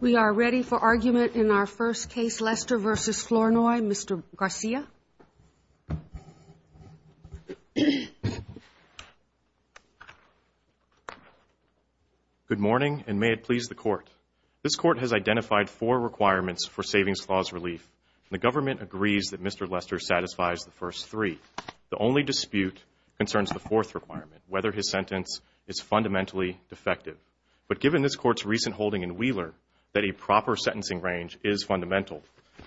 We are ready for argument in our first case, Lester v. Flournoy. Mr. Garcia? Good morning, and may it please the Court. This Court has identified four requirements for Savings Clause relief, and the government agrees that Mr. Lester satisfies the first three. The only dispute concerns the fourth requirement, whether his sentence is fundamentally defective. But given this Court's recent holding in Wheeler that a proper sentencing range is fundamental,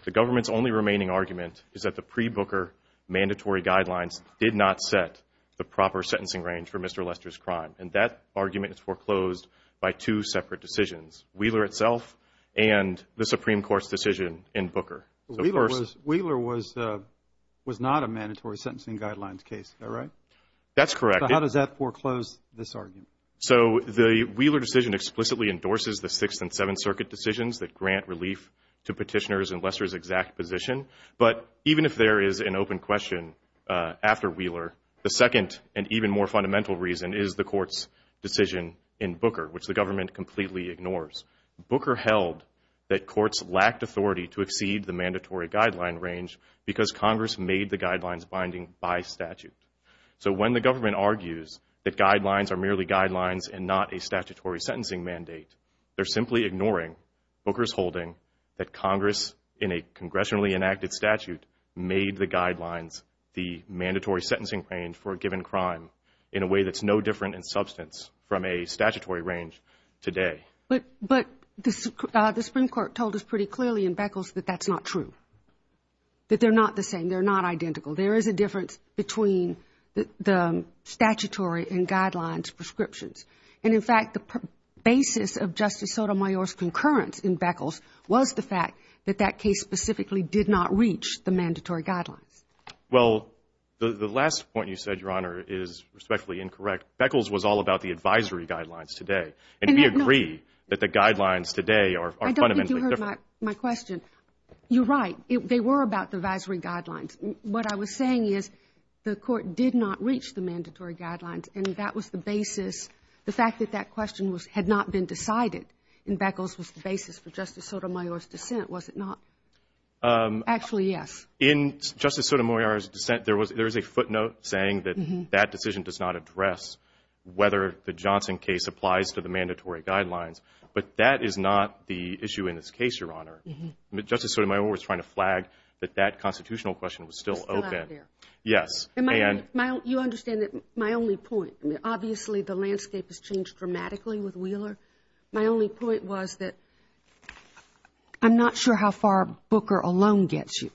the government's only remaining argument is that the pre-Booker mandatory guidelines did not set the proper sentencing range for Mr. Lester's crime. And that argument is foreclosed by two separate decisions, Wheeler itself and the Supreme Court's decision in Booker. Wheeler was not a mandatory sentencing guidelines case, is that right? That's correct. How does that foreclose this argument? So the Wheeler decision explicitly endorses the Sixth and Seventh Circuit decisions that grant relief to petitioners in Lester's exact position. But even if there is an open question after Wheeler, the second and even more fundamental reason is the Court's decision in Booker, which the government completely ignores. Booker held that courts lacked authority to exceed the mandatory guideline range because Congress made the guidelines binding by statute. So when the government argues that guidelines are merely guidelines and not a statutory sentencing mandate, they're simply ignoring Booker's holding that Congress, in a congressionally enacted statute, made the guidelines the mandatory sentencing range for a given crime in a way that's no different in substance from a statutory range today. But the Supreme Court told us pretty clearly in Beckles that that's not true, that they're not the same, they're not identical. There is a difference between the statutory and guidelines prescriptions. And, in fact, the basis of Justice Sotomayor's concurrence in Beckles was the fact that that case specifically did not reach the mandatory guidelines. Well, the last point you said, Your Honor, is respectfully incorrect. Beckles was all about the advisory guidelines today. And we agree that the guidelines today are fundamentally different. I don't think you heard my question. You're right. They were about the advisory guidelines. What I was saying is the court did not reach the mandatory guidelines, and that was the basis. The fact that that question had not been decided in Beckles was the basis for Justice Sotomayor's dissent, was it not? In Justice Sotomayor's dissent, there was a footnote saying that that decision does not address whether the Johnson case applies to the mandatory guidelines. But that is not the issue in this case, Your Honor. Justice Sotomayor was trying to flag that that constitutional question was still open. Still out there. Yes. You understand that my only point, obviously the landscape has changed dramatically with Wheeler. My only point was that I'm not sure how far Booker alone gets you.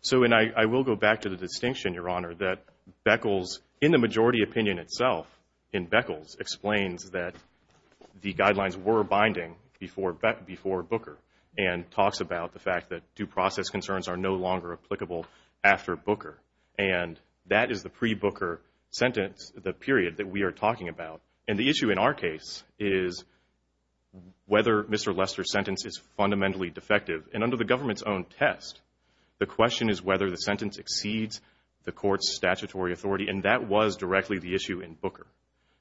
So, and I will go back to the distinction, Your Honor, that Beckles, in the majority opinion itself, in Beckles, explains that the guidelines were binding before Booker. And talks about the fact that due process concerns are no longer applicable after Booker. And that is the pre-Booker sentence, the period that we are talking about. And the issue in our case is whether Mr. Lester's sentence is fundamentally defective. And under the government's own test, the question is whether the sentence exceeds the court's statutory authority. And that was directly the issue in Booker.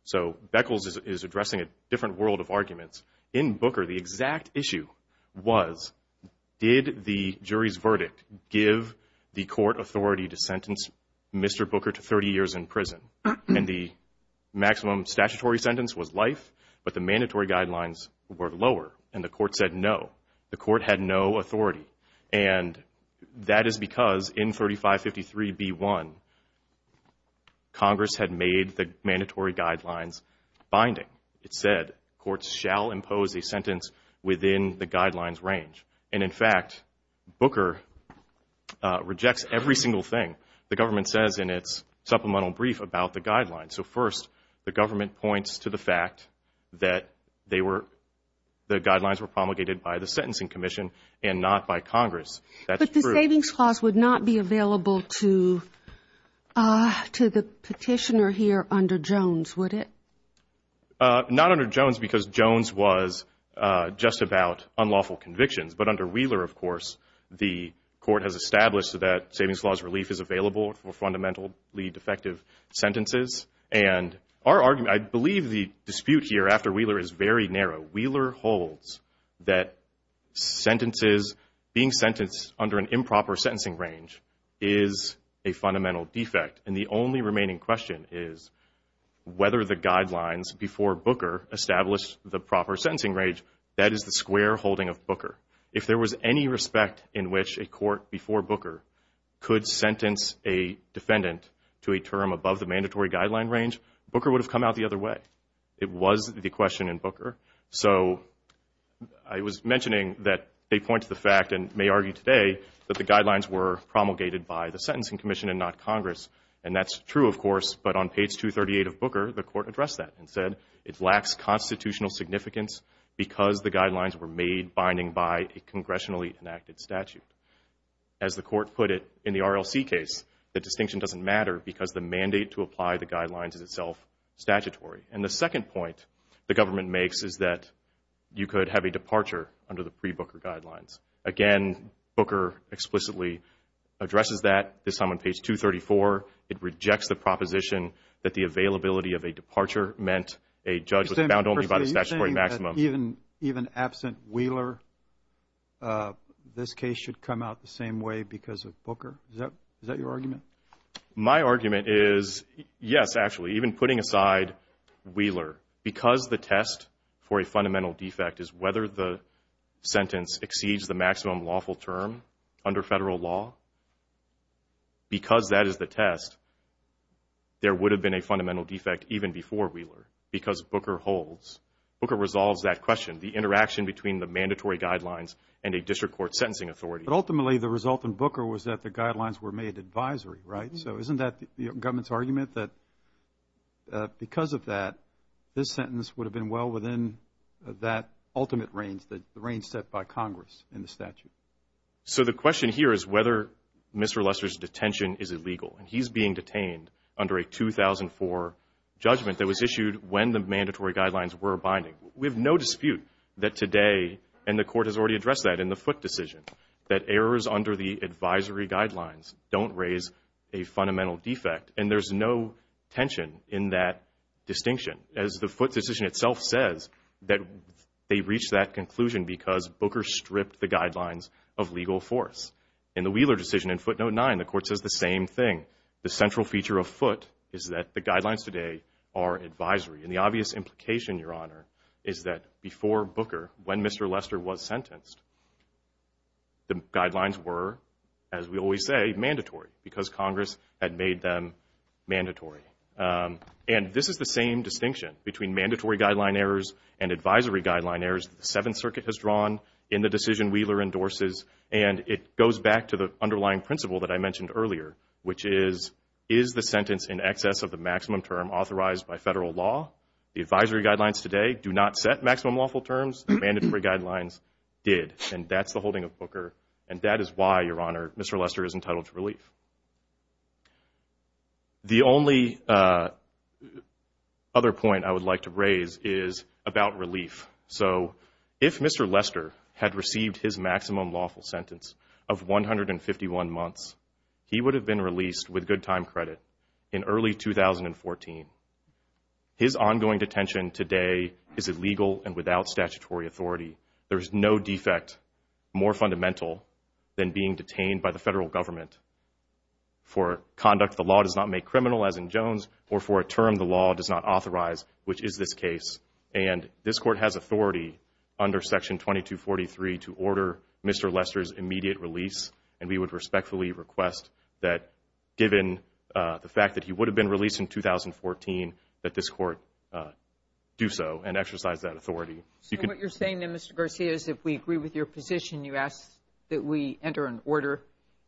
So Beckles is addressing a different world of arguments. In Booker, the exact issue was did the jury's verdict give the court authority to sentence Mr. Booker to 30 years in prison? And the maximum statutory sentence was life, but the mandatory guidelines were lower. And the court said no. The court had no authority. And that is because in 3553b1, Congress had made the mandatory guidelines binding. It said courts shall impose a sentence within the guidelines range. And, in fact, Booker rejects every single thing the government says in its supplemental brief about the guidelines. So, first, the government points to the fact that the guidelines were promulgated by the sentencing commission and not by Congress. That's true. But the savings clause would not be available to the petitioner here under Jones, would it? Not under Jones because Jones was just about unlawful convictions. But under Wheeler, of course, the court has established that savings clause relief is available for fundamentally defective sentences. And our argument, I believe the dispute here after Wheeler is very narrow. Wheeler holds that sentences, being sentenced under an improper sentencing range, is a fundamental defect. And the only remaining question is whether the guidelines before Booker established the proper sentencing range. That is the square holding of Booker. If there was any respect in which a court before Booker could sentence a defendant to a term above the mandatory guideline range, Booker would have come out the other way. It was the question in Booker. So I was mentioning that they point to the fact and may argue today that the guidelines were promulgated by the Sentencing Commission and not Congress. And that's true, of course. But on page 238 of Booker, the court addressed that and said it lacks constitutional significance because the guidelines were made binding by a congressionally enacted statute. As the court put it in the RLC case, the distinction doesn't matter because the mandate to apply the guidelines is itself statutory. And the second point the government makes is that you could have a departure under the pre-Booker guidelines. Again, Booker explicitly addresses that. This time on page 234, it rejects the proposition that the availability of a departure meant a judge was bound only by the statutory maximum. You're saying that even absent Wheeler, this case should come out the same way because of Booker? Is that your argument? My argument is yes, actually, even putting aside Wheeler. Because the test for a fundamental defect is whether the sentence exceeds the maximum lawful term under federal law, because that is the test, there would have been a fundamental defect even before Wheeler because Booker holds. Booker resolves that question, the interaction between the mandatory guidelines and a district court sentencing authority. But ultimately, the result in Booker was that the guidelines were made advisory, right? So isn't that the government's argument that because of that, this sentence would have been well within that ultimate range, the range set by Congress in the statute? So the question here is whether Mr. Lester's detention is illegal. And he's being detained under a 2004 judgment that was issued when the mandatory guidelines were binding. We have no dispute that today, and the court has already addressed that in the Foote decision, that errors under the advisory guidelines don't raise a fundamental defect, and there's no tension in that distinction, as the Foote decision itself says, that they reached that conclusion because Booker stripped the guidelines of legal force. In the Wheeler decision in Foote Note 9, the court says the same thing. The central feature of Foote is that the guidelines today are advisory. And the obvious implication, Your Honor, is that before Booker, when Mr. Lester was sentenced, the guidelines were, as we always say, mandatory because Congress had made them mandatory. And this is the same distinction between mandatory guideline errors and advisory guideline errors that the Seventh Circuit has drawn in the decision Wheeler endorses, and it goes back to the underlying principle that I mentioned earlier, which is, is the sentence in excess of the maximum term authorized by federal law? The advisory guidelines today do not set maximum lawful terms. The mandatory guidelines did, and that's the holding of Booker. And that is why, Your Honor, Mr. Lester is entitled to relief. The only other point I would like to raise is about relief. So if Mr. Lester had received his maximum lawful sentence of 151 months, he would have been released with good time credit in early 2014. His ongoing detention today is illegal and without statutory authority. There is no defect more fundamental than being detained by the federal government for conduct the law does not make criminal, as in Jones, or for a term the law does not authorize, which is this case. And this Court has authority under Section 2243 to order Mr. Lester's immediate release, and we would respectfully request that, given the fact that he would have been released in 2014, that this Court do so and exercise that authority. So what you're saying then, Mr. Garcia, is if we agree with your position, you ask that we enter an order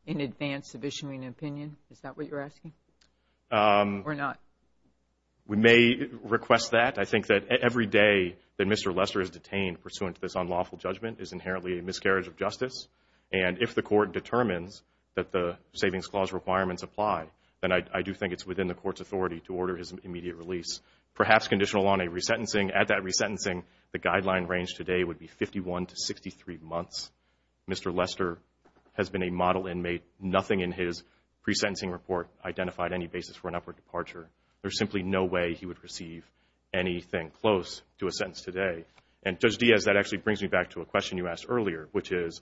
in advance of issuing an opinion? Is that what you're asking, or not? We may request that. I think that every day that Mr. Lester is detained pursuant to this unlawful judgment is inherently a miscarriage of justice. And if the Court determines that the Savings Clause requirements apply, then I do think it's within the Court's authority to order his immediate release, perhaps conditional on a resentencing. At that resentencing, the guideline range today would be 51 to 63 months. Mr. Lester has been a model inmate. Nothing in his pre-sentencing report identified any basis for an upward departure. There's simply no way he would receive anything close to a sentence today. And, Judge Diaz, that actually brings me back to a question you asked earlier, which is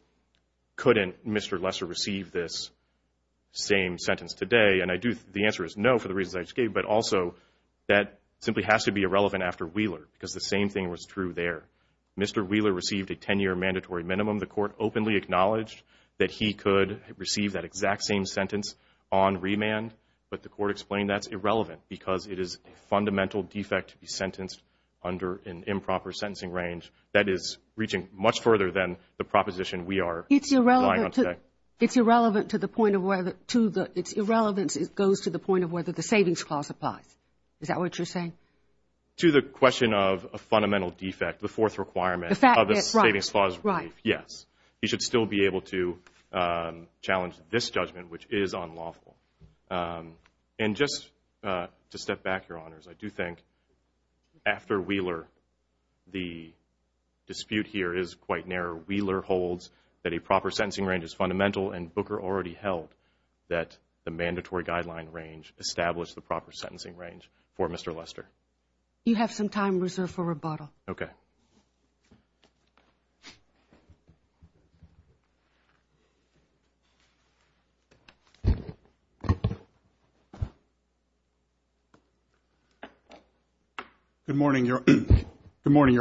couldn't Mr. Lester receive this same sentence today? And the answer is no for the reasons I just gave, but also that simply has to be irrelevant after Wheeler because the same thing was true there. Mr. Wheeler received a 10-year mandatory minimum. The Court openly acknowledged that he could receive that exact same sentence on remand, but the Court explained that's irrelevant because it is a fundamental defect to be sentenced under an improper sentencing range that is reaching much further than the proposition we are relying on today. It's irrelevant to the point of whether the Savings Clause applies. Is that what you're saying? To the question of a fundamental defect, the fourth requirement of the Savings Clause relief, yes. He should still be able to challenge this judgment, which is unlawful. And just to step back, Your Honors, I do think after Wheeler, the dispute here is quite narrow. Wheeler holds that a proper sentencing range is fundamental, and Booker already held that the mandatory guideline range established the proper sentencing range for Mr. Lester. You have some time reserved for rebuttal. Okay. Good morning, Your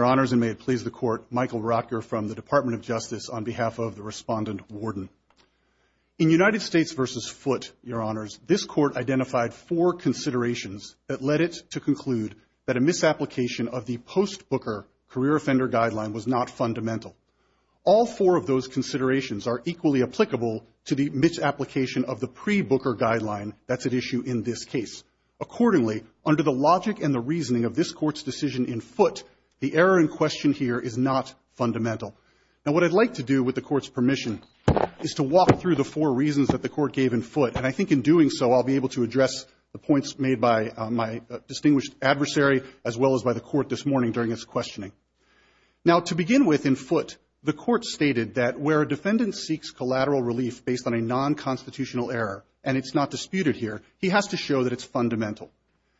Honors, and may it please the Court. Michael Rocker from the Department of Justice on behalf of the Respondent Warden. In United States v. Foote, Your Honors, this Court identified four considerations that led it to conclude that a misapplication of the post-Booker career offender guideline was not fundamental. All four of those considerations are equally applicable to the misapplication of the pre-Booker guideline that's at issue in this case. Accordingly, under the logic and the reasoning of this Court's decision in Foote, the error in question here is not fundamental. Now, what I'd like to do with the Court's permission is to walk through the four reasons that the Court gave in Foote, and I think in doing so I'll be able to address the points made by my distinguished adversary as well as by the Court this morning during its questioning. Now, to begin with, in Foote, the Court stated that where a defendant seeks collateral relief based on a non-constitutional error, and it's not disputed here, he has to show that it's fundamental.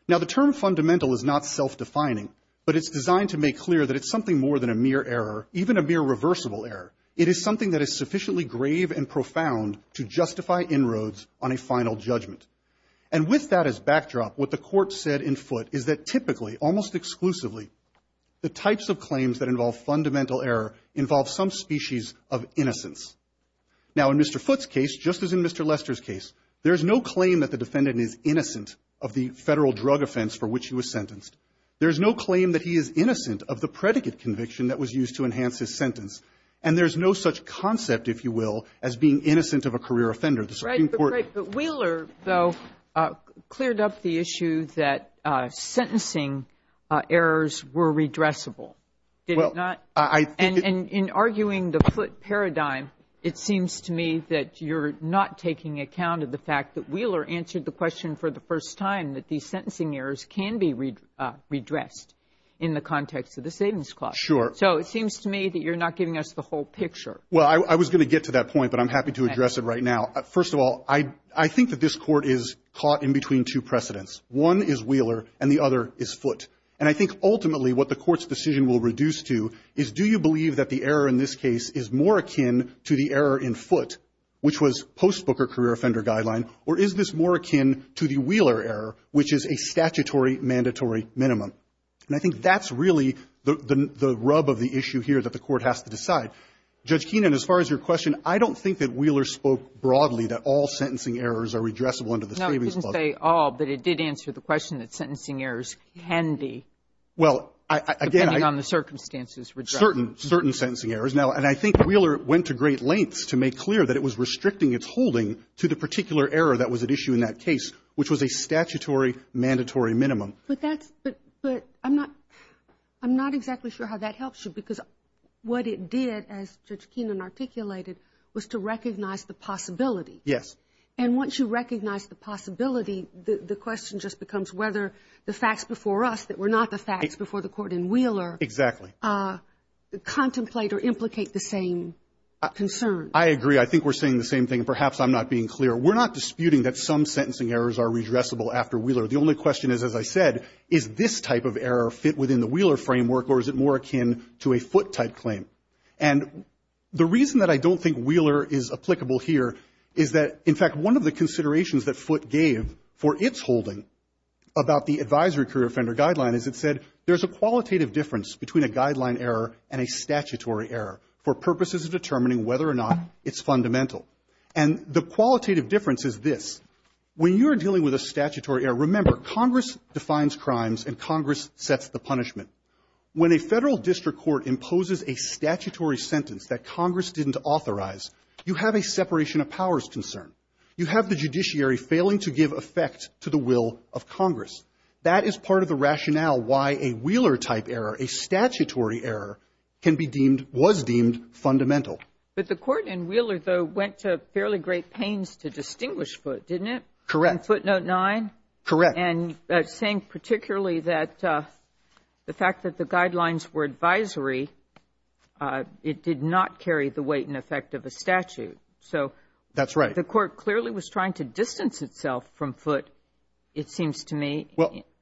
Now, the term fundamental is not self-defining, but it's designed to make clear that it's something more than a mere error, even a mere reversible error. It is something that is sufficiently grave and profound to justify inroads on a final judgment. And with that as backdrop, what the Court said in Foote is that typically, almost exclusively, the types of claims that involve fundamental error involve some species of innocence. Now, in Mr. Foote's case, just as in Mr. Lester's case, there is no claim that the defendant is innocent of the Federal drug offense for which he was sentenced. There is no claim that he is innocent of the predicate conviction that was used to enhance his sentence. And there is no such concept, if you will, as being innocent of a career offender. But Wheeler, though, cleared up the issue that sentencing errors were redressable. Did it not? Well, I think it — And in arguing the Foote paradigm, it seems to me that you're not taking account of the fact that Wheeler answered the question for the first time that these sentencing errors can be redressed in the context of the savings clause. Sure. So it seems to me that you're not giving us the whole picture. Well, I was going to get to that point, but I'm happy to address it right now. First of all, I think that this Court is caught in between two precedents. One is Wheeler, and the other is Foote. And I think ultimately what the Court's decision will reduce to is, do you believe that the error in this case is more akin to the error in Foote, which was post-Booker career offender guideline, or is this more akin to the Wheeler error, which is a statutory mandatory minimum? And I think that's really the rub of the issue here that the Court has to decide. Judge Keenan, as far as your question, I don't think that Wheeler spoke broadly that all sentencing errors are redressable under the savings clause. No, it didn't say all, but it did answer the question that sentencing errors can be, depending on the circumstances, redressed. Well, again, certain, certain sentencing errors. Now, and I think Wheeler went to great lengths to make clear that it was restricting its holding to the particular error that was at issue in that case, which was a statutory mandatory minimum. But that's, but I'm not, I'm not exactly sure how that helps you, because what it did, as Judge Keenan articulated, was to recognize the possibility. Yes. And once you recognize the possibility, the question just becomes whether the facts before us that were not the facts before the Court in Wheeler. Exactly. Contemplate or implicate the same concern. I agree. I think we're saying the same thing. Perhaps I'm not being clear. We're not disputing that some sentencing errors are redressable after Wheeler. The only question is, as I said, is this type of error fit within the Wheeler framework, or is it more akin to a Foote-type claim? And the reason that I don't think Wheeler is applicable here is that, in fact, one of the considerations that Foote gave for its holding about the advisory career offender guideline is it said there's a qualitative difference between a guideline error and a statutory error for purposes of determining whether or not it's fundamental. And the qualitative difference is this. When you're dealing with a statutory error, remember, Congress defines crimes and Congress sets the punishment. When a Federal district court imposes a statutory sentence that Congress didn't authorize, you have a separation of powers concern. You have the judiciary failing to give effect to the will of Congress. That is part of the rationale why a Wheeler-type error, a statutory error, can be deemed was deemed fundamental. But the court in Wheeler, though, went to fairly great pains to distinguish Foote, didn't it? Correct. In Foote Note 9? Correct. And saying particularly that the fact that the guidelines were advisory, it did not carry the weight and effect of a statute. So the court clearly was trying to distance itself from Foote, it seems to me,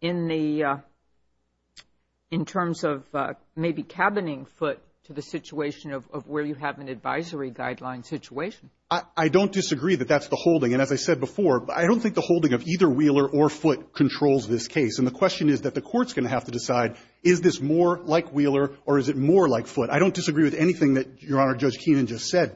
in terms of maybe cabining Foote to the situation of where you have an advisory guideline situation. I don't disagree that that's the holding. And as I said before, I don't think the holding of either Wheeler or Foote controls this case. And the question is that the court's going to have to decide, is this more like Wheeler or is it more like Foote? I don't disagree with anything that Your Honor, Judge Keenan just said.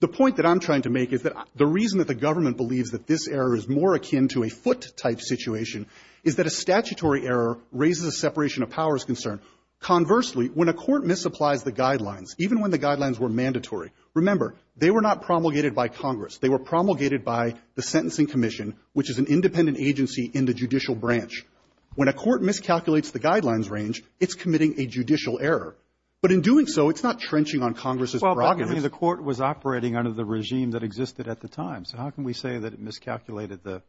The point that I'm trying to make is that the reason that the government believes that this error is more akin to a Foote-type situation is that a statutory error raises a separation of powers concern. Conversely, when a court misapplies the guidelines, even when the guidelines were mandatory, remember, they were not promulgated by Congress. They were promulgated by the Sentencing Commission, which is an independent agency in the judicial branch. When a court miscalculates the guidelines range, it's committing a judicial error. But in doing so, it's not trenching on Congress's brogadism. Well, but I mean, the court was operating under the regime that existed at the time. So how can we say that it miscalculated the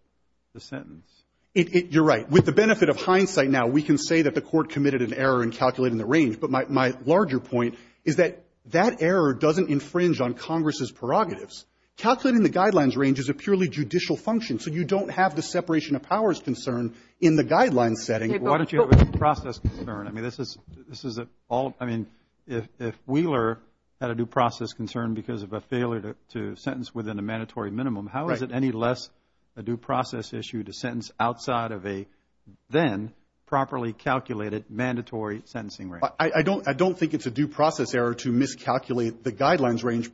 sentence? You're right. With the benefit of hindsight now, we can say that the court committed an error in calculating the range. But my larger point is that that error doesn't infringe on Congress's prerogatives. Calculating the guidelines range is a purely judicial function. So you don't have the separation of powers concern in the guidelines setting. Why don't you have a due process concern? I mean, this is a all – I mean, if Wheeler had a due process concern because of a failure to sentence within a mandatory minimum, how is it any less a due process issue to sentence outside of a then properly calculated mandatory sentencing range? I don't think it's a due process error to miscalculate the guidelines range,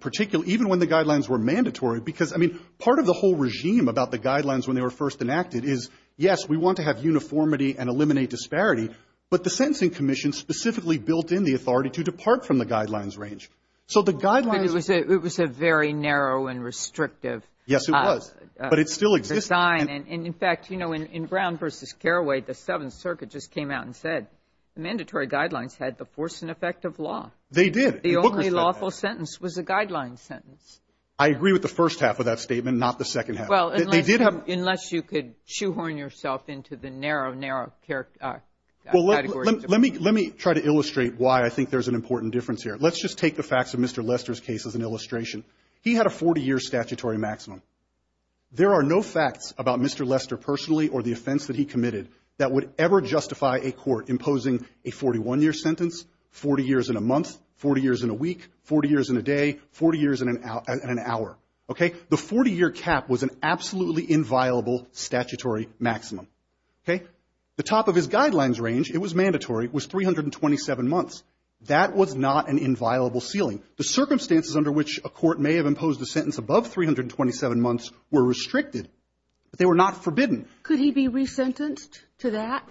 even when the guidelines were mandatory. Because, I mean, part of the whole regime about the guidelines when they were first enacted is, yes, we want to have uniformity and eliminate disparity. But the Sentencing Commission specifically built in the authority to depart from the guidelines range. So the guidelines — But it was a very narrow and restrictive — Yes, it was. But it still exists. — design. And, in fact, you know, in Brown v. Carraway, the Seventh Circuit just came out and said the mandatory guidelines had the force and effect of law. They did. The bookers said that. The only lawful sentence was a guideline sentence. I agree with the first half of that statement, not the second half. Well, unless — They did have — Unless you could shoehorn yourself into the narrow, narrow category. Let me try to illustrate why I think there's an important difference here. Let's just take the facts of Mr. Lester's case as an illustration. He had a 40-year statutory maximum. There are no facts about Mr. Lester personally or the offense that he committed that would ever justify a court imposing a 41-year sentence, 40 years in a month, 40 years in a week, 40 years in a day, 40 years in an hour. Okay? The 40-year cap was an absolutely inviolable statutory maximum. Okay? The top of his guidelines range, it was mandatory, was 327 months. That was not an inviolable ceiling. The circumstances under which a court may have imposed a sentence above 327 months were restricted, but they were not forbidden. Could he be resentenced to that?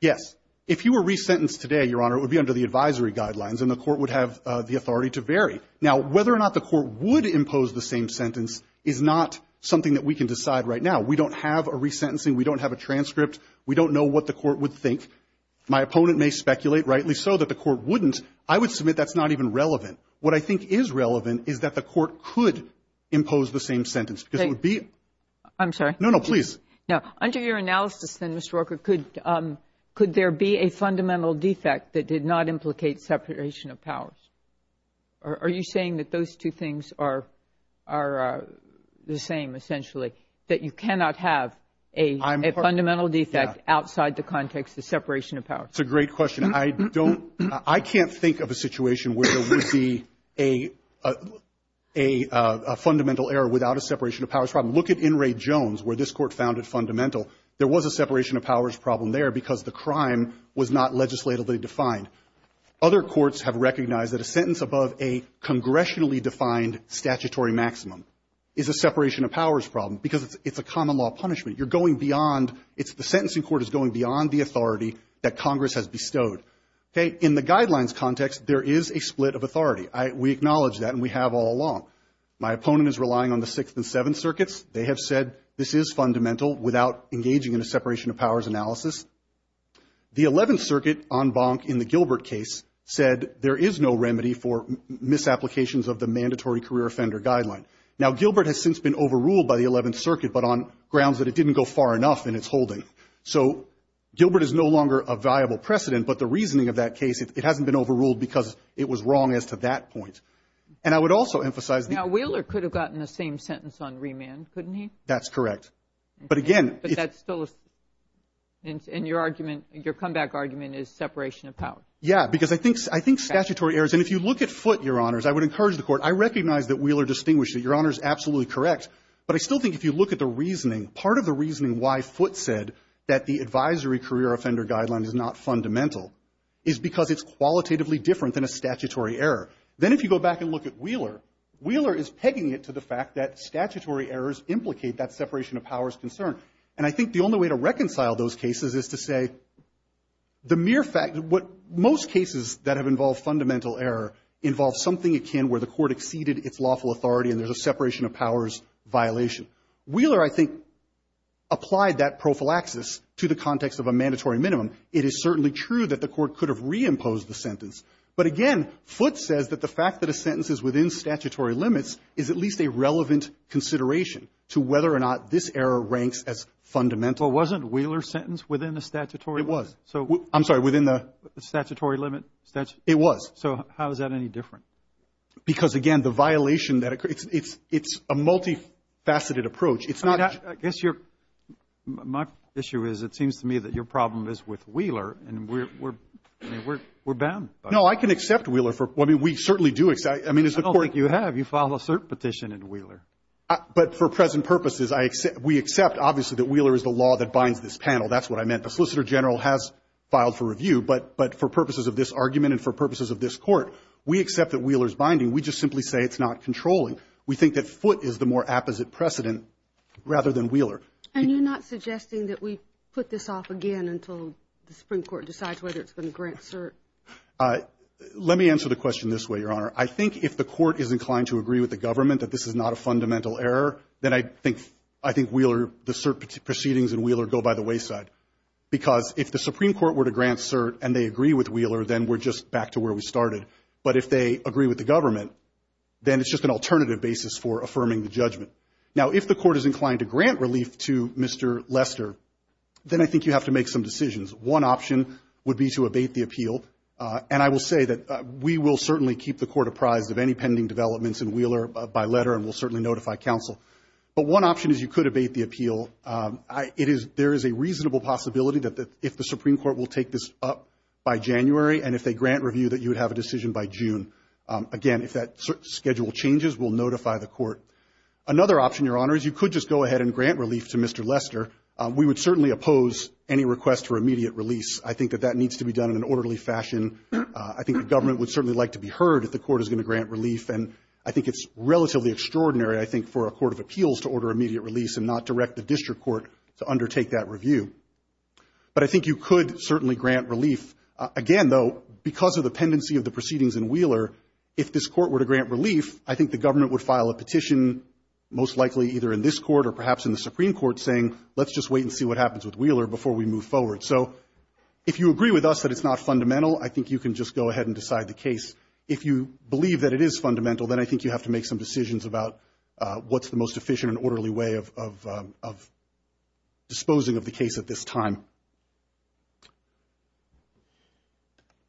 Yes. If he were resentenced today, Your Honor, it would be under the advisory guidelines, and the court would have the authority to vary. Now, whether or not the court would impose the same sentence is not something that we can decide right now. We don't have a resentencing. We don't have a transcript. We don't know what the court would think. My opponent may speculate, rightly so, that the court wouldn't. I would submit that's not even relevant. What I think is relevant is that the court could impose the same sentence, because it would be – I'm sorry. No, no, please. No. Under your analysis, then, Mr. Walker, could there be a fundamental defect that did not implicate separation of powers? Are you saying that those two things are the same, essentially, that you cannot have a fundamental defect outside the context of separation of powers? It's a great question. I don't – I can't think of a situation where there would be a fundamental error without a separation of powers problem. Look at In re Jones, where this Court found it fundamental. There was a separation of powers problem there because the crime was not legislatively defined. Other courts have recognized that a sentence above a congressionally defined statutory maximum is a separation of powers problem because it's a common law punishment. You're going beyond – the sentencing court is going beyond the authority that Congress has bestowed. Okay? In the guidelines context, there is a split of authority. We acknowledge that, and we have all along. My opponent is relying on the Sixth and Seventh Circuits. They have said this is fundamental without engaging in a separation of powers analysis. The Eleventh Circuit, en banc in the Gilbert case, said there is no remedy for misapplications of the mandatory career offender guideline. Now, Gilbert has since been overruled by the Eleventh Circuit, but on grounds that it didn't go far enough in its holding. So Gilbert is no longer a viable precedent, but the reasoning of that case, it hasn't been overruled because it was wrong as to that point. And I would also emphasize the – Now, Wheeler could have gotten the same sentence on remand, couldn't he? That's correct. But again – But that's still – and your argument – your comeback argument is separation of powers. Yeah, because I think – I think statutory errors – If you look at Foote, Your Honors, I would encourage the Court – I recognize that Wheeler distinguished it. Your Honor is absolutely correct. But I still think if you look at the reasoning, part of the reasoning why Foote said that the advisory career offender guideline is not fundamental is because it's qualitatively different than a statutory error. Then if you go back and look at Wheeler, Wheeler is pegging it to the fact that statutory errors implicate that separation of powers concern. And I think the only way to reconcile those cases is to say the mere fact – what Most cases that have involved fundamental error involve something akin where the Court exceeded its lawful authority and there's a separation of powers violation. Wheeler, I think, applied that prophylaxis to the context of a mandatory minimum. It is certainly true that the Court could have reimposed the sentence. But again, Foote says that the fact that a sentence is within statutory limits is at least a relevant consideration to whether or not this error ranks as fundamental. Well, wasn't Wheeler's sentence within the statutory limits? I'm sorry. Within the – Statutory limit? It was. So how is that any different? Because, again, the violation that – it's a multifaceted approach. It's not – I guess you're – my issue is it seems to me that your problem is with Wheeler, and we're bound by that. No, I can accept Wheeler for – I mean, we certainly do – I don't think you have. You filed a cert petition in Wheeler. But for present purposes, I – we accept, obviously, that Wheeler is the law that binds this panel. That's what I meant. The Solicitor General has filed for review. But for purposes of this argument and for purposes of this Court, we accept that Wheeler is binding. We just simply say it's not controlling. We think that Foote is the more apposite precedent rather than Wheeler. And you're not suggesting that we put this off again until the Supreme Court decides whether it's going to grant cert? Let me answer the question this way, Your Honor. I think if the Court is inclined to agree with the government that this is not a fundamental error, then I think Wheeler – the cert proceedings in Wheeler go by the wayside. Because if the Supreme Court were to grant cert and they agree with Wheeler, then we're just back to where we started. But if they agree with the government, then it's just an alternative basis for affirming the judgment. Now, if the Court is inclined to grant relief to Mr. Lester, then I think you have to make some decisions. One option would be to abate the appeal. And I will say that we will certainly keep the Court apprised of any pending developments in Wheeler by letter and will certainly notify counsel. But one option is you could abate the appeal. It is – there is a reasonable possibility that if the Supreme Court will take this up by January and if they grant review, that you would have a decision by June. Again, if that schedule changes, we'll notify the Court. Another option, Your Honor, is you could just go ahead and grant relief to Mr. Lester. We would certainly oppose any request for immediate release. I think that that needs to be done in an orderly fashion. I think the government would certainly like to be heard if the Court is going to grant relief. And I think it's relatively extraordinary, I think, for a court of appeals to order immediate release and not direct the district court to undertake that review. But I think you could certainly grant relief. Again, though, because of the pendency of the proceedings in Wheeler, if this court were to grant relief, I think the government would file a petition, most likely either in this Court or perhaps in the Supreme Court, saying let's just wait and see what happens with Wheeler before we move forward. So if you agree with us that it's not fundamental, I think you can just go ahead and decide the case. If you believe that it is fundamental, then I think you have to make some decisions about what's the most efficient and orderly way of disposing of the case at this time.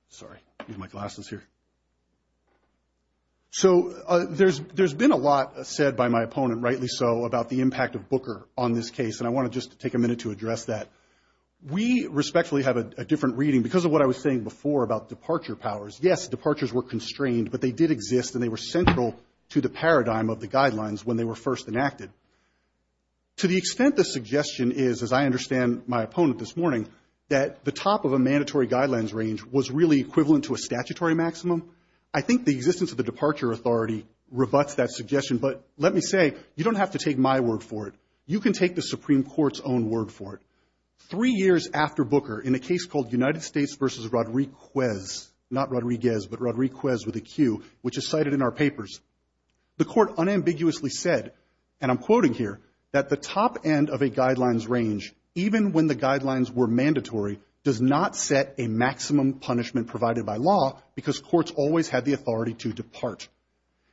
Sorry. I need my glasses here. So there's been a lot said by my opponent, rightly so, about the impact of Booker on this case. And I want to just take a minute to address that. We respectfully have a different reading. Because of what I was saying before about departure powers, yes, departures were first enacted. To the extent the suggestion is, as I understand my opponent this morning, that the top of a mandatory guidelines range was really equivalent to a statutory maximum, I think the existence of the departure authority rebuts that suggestion. But let me say, you don't have to take my word for it. You can take the Supreme Court's own word for it. Three years after Booker, in a case called United States v. Rodriguez, not Rodriguez, but Rodriguez with a Q, which is cited in our papers, the court unambiguously said, and I'm quoting here, that the top end of a guidelines range, even when the guidelines were mandatory, does not set a maximum punishment provided by law because courts always had the authority to depart.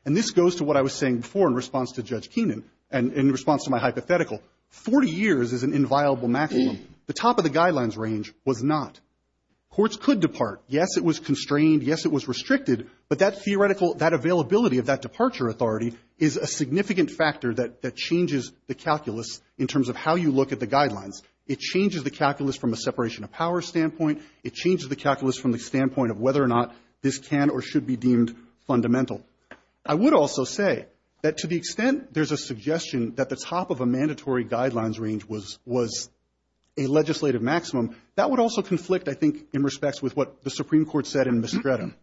And this goes to what I was saying before in response to Judge Keenan and in response to my hypothetical. Forty years is an inviolable maximum. The top of the guidelines range was not. Courts could depart. Yes, it was constrained. Yes, it was restricted. But that theoretical, that availability of that departure authority is a significant factor that changes the calculus in terms of how you look at the guidelines. It changes the calculus from a separation of power standpoint. It changes the calculus from the standpoint of whether or not this can or should be deemed fundamental. I would also say that to the extent there's a suggestion that the top of a mandatory guidelines range was a legislative maximum, that would also conflict, I think, in respects with what the Supreme Court said in Mistretta.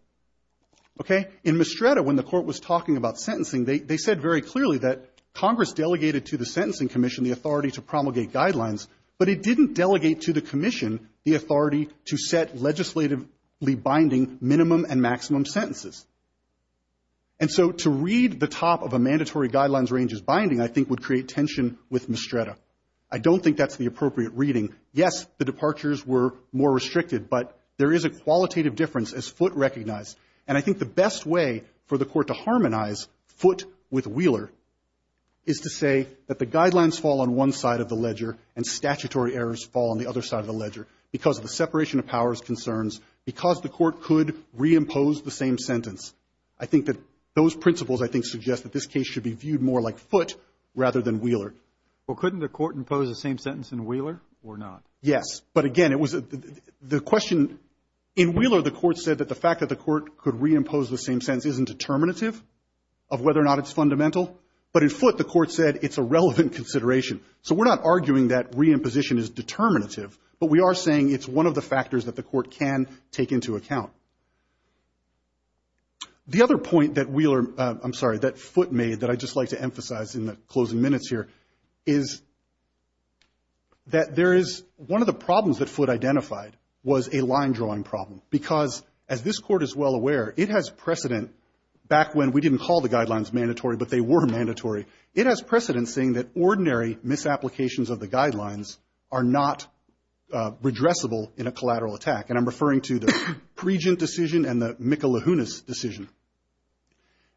Okay? In Mistretta, when the Court was talking about sentencing, they said very clearly that Congress delegated to the Sentencing Commission the authority to promulgate guidelines, but it didn't delegate to the Commission the authority to set legislatively binding minimum and maximum sentences. And so to read the top of a mandatory guidelines range as binding, I think, would create tension with Mistretta. I don't think that's the appropriate reading. Yes, the departures were more restricted, but there is a qualitative difference as Foote recognized. And I think the best way for the Court to harmonize Foote with Wheeler is to say that the guidelines fall on one side of the ledger and statutory errors fall on the other side of the ledger because of the separation of powers concerns, because the Court could reimpose the same sentence. I think that those principles, I think, suggest that this case should be viewed more like Foote rather than Wheeler. Well, couldn't the Court impose the same sentence in Wheeler or not? Yes, but again, it was the question. In Wheeler, the Court said that the fact that the Court could reimpose the same sentence isn't determinative of whether or not it's fundamental, but in Foote, the Court said it's a relevant consideration. So we're not arguing that reimposition is determinative, but we are saying it's one of the factors that the Court can take into account. The other point that Wheeler, I'm sorry, that Foote made that I'd just like to make is that there is one of the problems that Foote identified was a line-drawing problem, because as this Court is well aware, it has precedent back when we didn't call the guidelines mandatory, but they were mandatory. It has precedent saying that ordinary misapplications of the guidelines are not redressable in a collateral attack, and I'm referring to the Preejant decision and the Mikulahunas decision.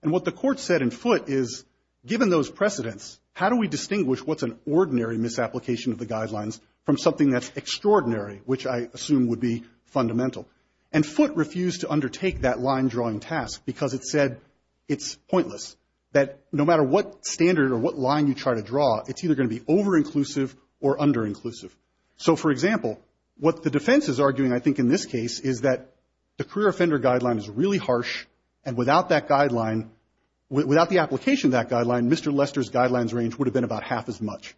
And what the Court said in Foote is, given those precedents, how do we distinguish what's an ordinary misapplication of the guidelines from something that's extraordinary, which I assume would be fundamental? And Foote refused to undertake that line-drawing task because it said it's pointless, that no matter what standard or what line you try to draw, it's either going to be over-inclusive or under-inclusive. So, for example, what the defense is arguing, I think, in this case, is that the without the application of that guideline, Mr. Lester's guidelines range would have been about half as much.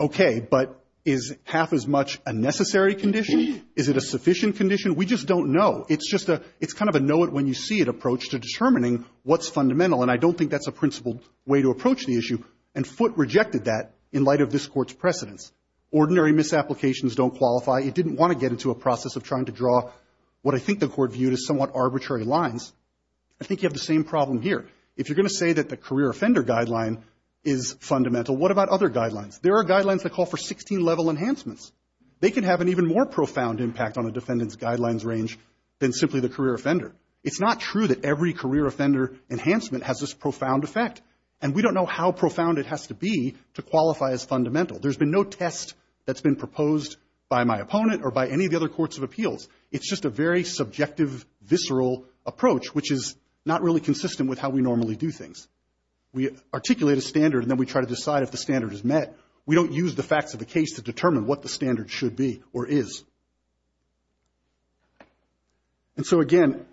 Okay, but is half as much a necessary condition? Is it a sufficient condition? We just don't know. It's kind of a know-it-when-you-see-it approach to determining what's fundamental, and I don't think that's a principled way to approach the issue. And Foote rejected that in light of this Court's precedents. Ordinary misapplications don't qualify. It didn't want to get into a process of trying to draw what I think the Court viewed as somewhat arbitrary lines. I think you have the same problem here. If you're going to say that the career offender guideline is fundamental, what about other guidelines? There are guidelines that call for 16-level enhancements. They can have an even more profound impact on a defendant's guidelines range than simply the career offender. It's not true that every career offender enhancement has this profound effect, and we don't know how profound it has to be to qualify as fundamental. There's been no test that's been proposed by my opponent or by any of the other courts of appeals. It's just a very subjective, visceral approach, which is not really consistent with how we normally do things. We articulate a standard, and then we try to decide if the standard is met. We don't use the facts of the case to determine what the standard should be or is. And so, again,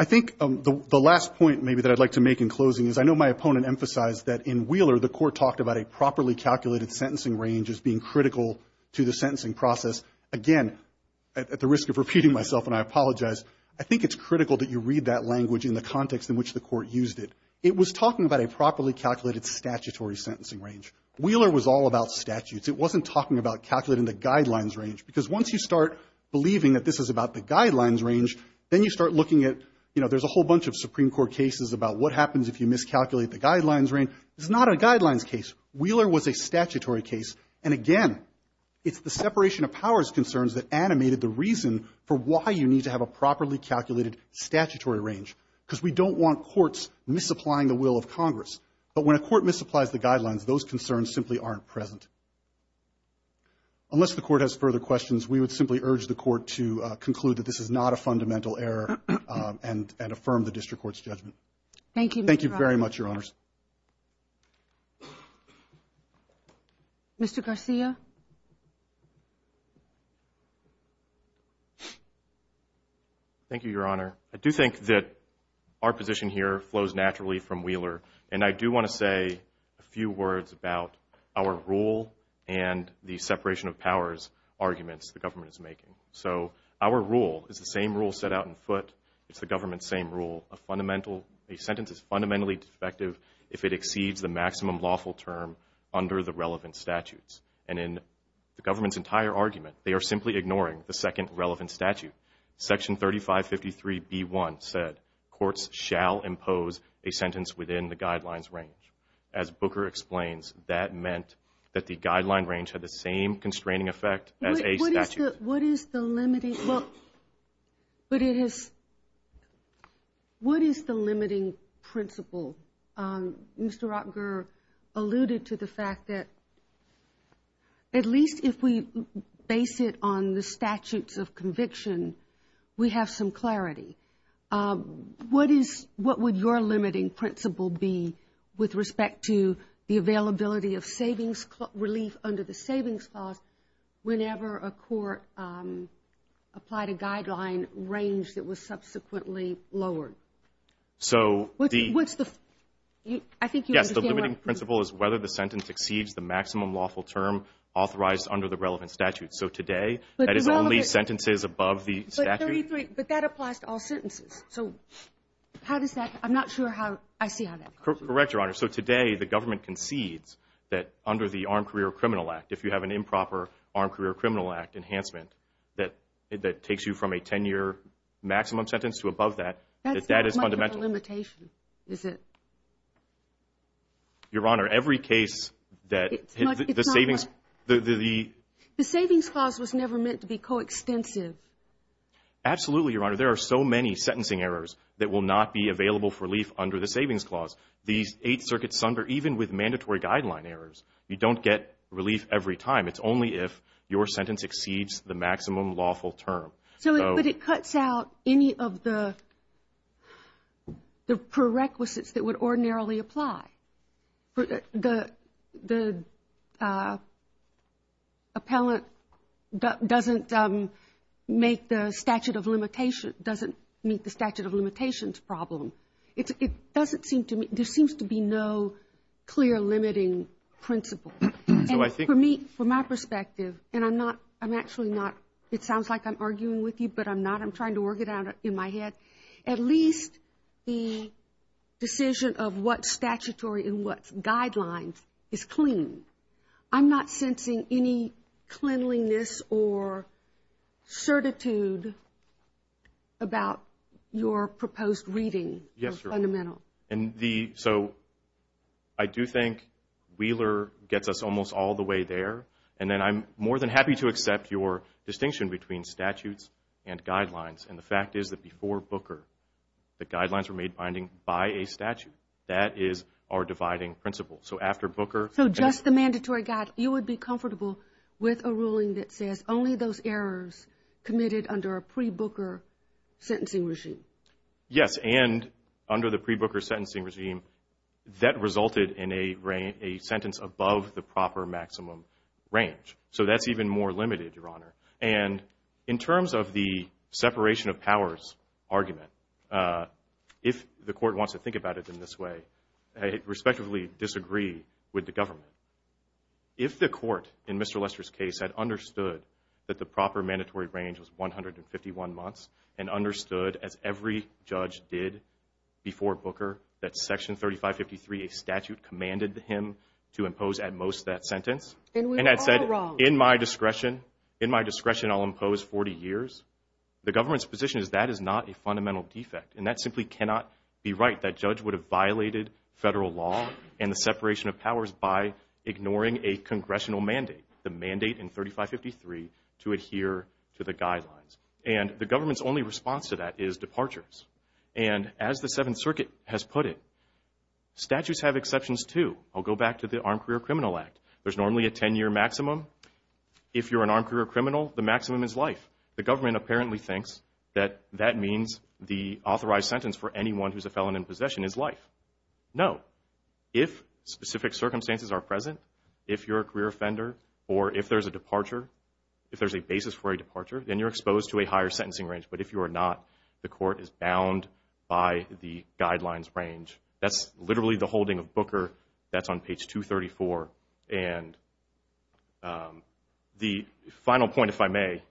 I think the last point maybe that I'd like to make in closing is I know my opponent emphasized that in Wheeler the Court talked about a properly calculated sentencing range as being critical to the sentencing process. Again, at the risk of repeating myself, and I apologize, I think it's critical that you read that language in the context in which the Court used it. It was talking about a properly calculated statutory sentencing range. Wheeler was all about statutes. It wasn't talking about calculating the guidelines range, because once you start believing that this is about the guidelines range, then you start looking at, you know, there's a whole bunch of Supreme Court cases about what happens if you miscalculate the guidelines range. It's not a guidelines case. Wheeler was a statutory case. And, again, it's the separation of powers concerns that animated the reason for why you need to have a properly calculated statutory range, because we don't want courts misapplying the will of Congress. But when a court misapplies the guidelines, those concerns simply aren't present. Unless the Court has further questions, we would simply urge the Court to conclude that this is not a fundamental error and affirm the district court's judgment. Thank you very much, Your Honors. Mr. Garcia? Thank you, Your Honor. I do think that our position here flows naturally from Wheeler. And I do want to say a few words about our rule and the separation of powers arguments the government is making. So our rule is the same rule set out in foot. It's the government's same rule. A sentence is fundamentally defective. If it exceeds the maximum lawful term under the relevant statutes. And in the government's entire argument, they are simply ignoring the second relevant statute. Section 3553B1 said courts shall impose a sentence within the guidelines range. As Booker explains, that meant that the guideline range had the same constraining effect as a statute. What is the limiting principle? Mr. Rockger alluded to the fact that at least if we base it on the statutes of conviction, we have some clarity. What would your limiting principle be with respect to the availability of savings relief under the savings clause whenever a court applied a guideline range that was subsequently lowered? Yes, the limiting principle is whether the sentence exceeds the maximum lawful term authorized under the relevant statute. So today, that is only sentences above the statute. But that applies to all sentences. I'm not sure how I see how that works. Correct, Your Honor. So today, the government concedes that under the Armed Career Criminal Act, if you have an improper Armed Career Criminal Act enhancement that takes you from a 10-year maximum sentence to above that, that that is fundamental. That's not much of a limitation, is it? Your Honor, every case that the savings. The savings clause was never meant to be coextensive. Absolutely, Your Honor. There are so many sentencing errors that will not be available for relief under the savings clause. These eight circuits sunder even with mandatory guideline errors. You don't get relief every time. It's only if your sentence exceeds the maximum lawful term. But it cuts out any of the prerequisites that would ordinarily apply. The appellant doesn't make the statute of limitations, doesn't meet the statute of limitations problem. There seems to be no clear limiting principle. And for me, from my perspective, and I'm not, I'm actually not, it sounds like I'm arguing with you, but I'm not. I'm trying to work it out in my head. At least the decision of what's statutory and what's guidelines is clean. I'm not sensing any cleanliness or certitude about your proposed reading. Yes, Your Honor. Or fundamental. And the, so I do think Wheeler gets us almost all the way there. And then I'm more than happy to accept your distinction between statutes and guidelines. And the fact is that before Booker, the guidelines were made binding by a statute. That is our dividing principle. So after Booker. So just the mandatory guide, you would be comfortable with a ruling that says only those errors committed under a pre-Booker sentencing regime. Yes, and under the pre-Booker sentencing regime, that resulted in a sentence above the proper maximum range. So that's even more limited, Your Honor. And in terms of the separation of powers argument, if the court wants to think about it in this way, I respectfully disagree with the government. If the court in Mr. Lester's case had understood that the proper mandatory range was 151 months and understood, as every judge did before Booker, that Section 3553, a statute commanded him to impose at most that sentence. And we were all wrong. And had said, in my discretion, in my discretion I'll impose 40 years. The government's position is that is not a fundamental defect. And that simply cannot be right. That judge would have violated federal law and the separation of powers by ignoring a congressional mandate, the mandate in 3553 to adhere to the guidelines. And the government's only response to that is departures. And as the Seventh Circuit has put it, statutes have exceptions too. I'll go back to the Armed Career Criminal Act. There's normally a 10-year maximum. If you're an armed career criminal, the maximum is life. The government apparently thinks that that means the authorized sentence for anyone who's a felon in possession is life. No. If specific circumstances are present, if you're a career offender, or if there's a departure, if there's a basis for a departure, then you're exposed to a higher sentencing range. But if you are not, the court is bound by the guidelines range. That's literally the holding of Booker. That's on page 234. And the final point, if I may,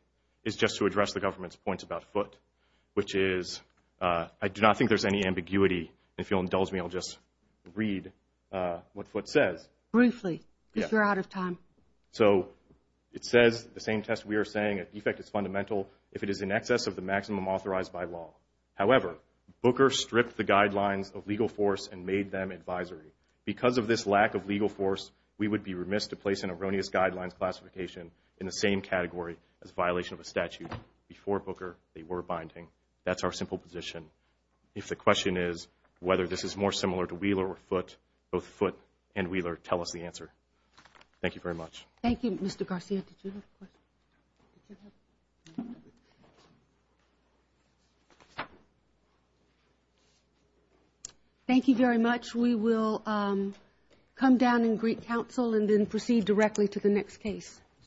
is just to address the government's points about Foote, which is I do not think there's any ambiguity. If you'll indulge me, I'll just read what Foote says. Briefly, if you're out of time. So it says the same test we are saying, a defect is fundamental if it is in excess of the maximum authorized by law. However, Booker stripped the guidelines of legal force and made them advisory. Because of this lack of legal force, we would be remiss to place an erroneous guidelines classification in the same category as violation of a statute. Before Booker, they were binding. That's our simple position. If the question is whether this is more similar to Wheeler or Foote, both Foote and Wheeler tell us the answer. Thank you very much. Thank you, Mr. Garcia. Did you have a question? Thank you very much. We will come down and greet counsel and then proceed directly to the next case.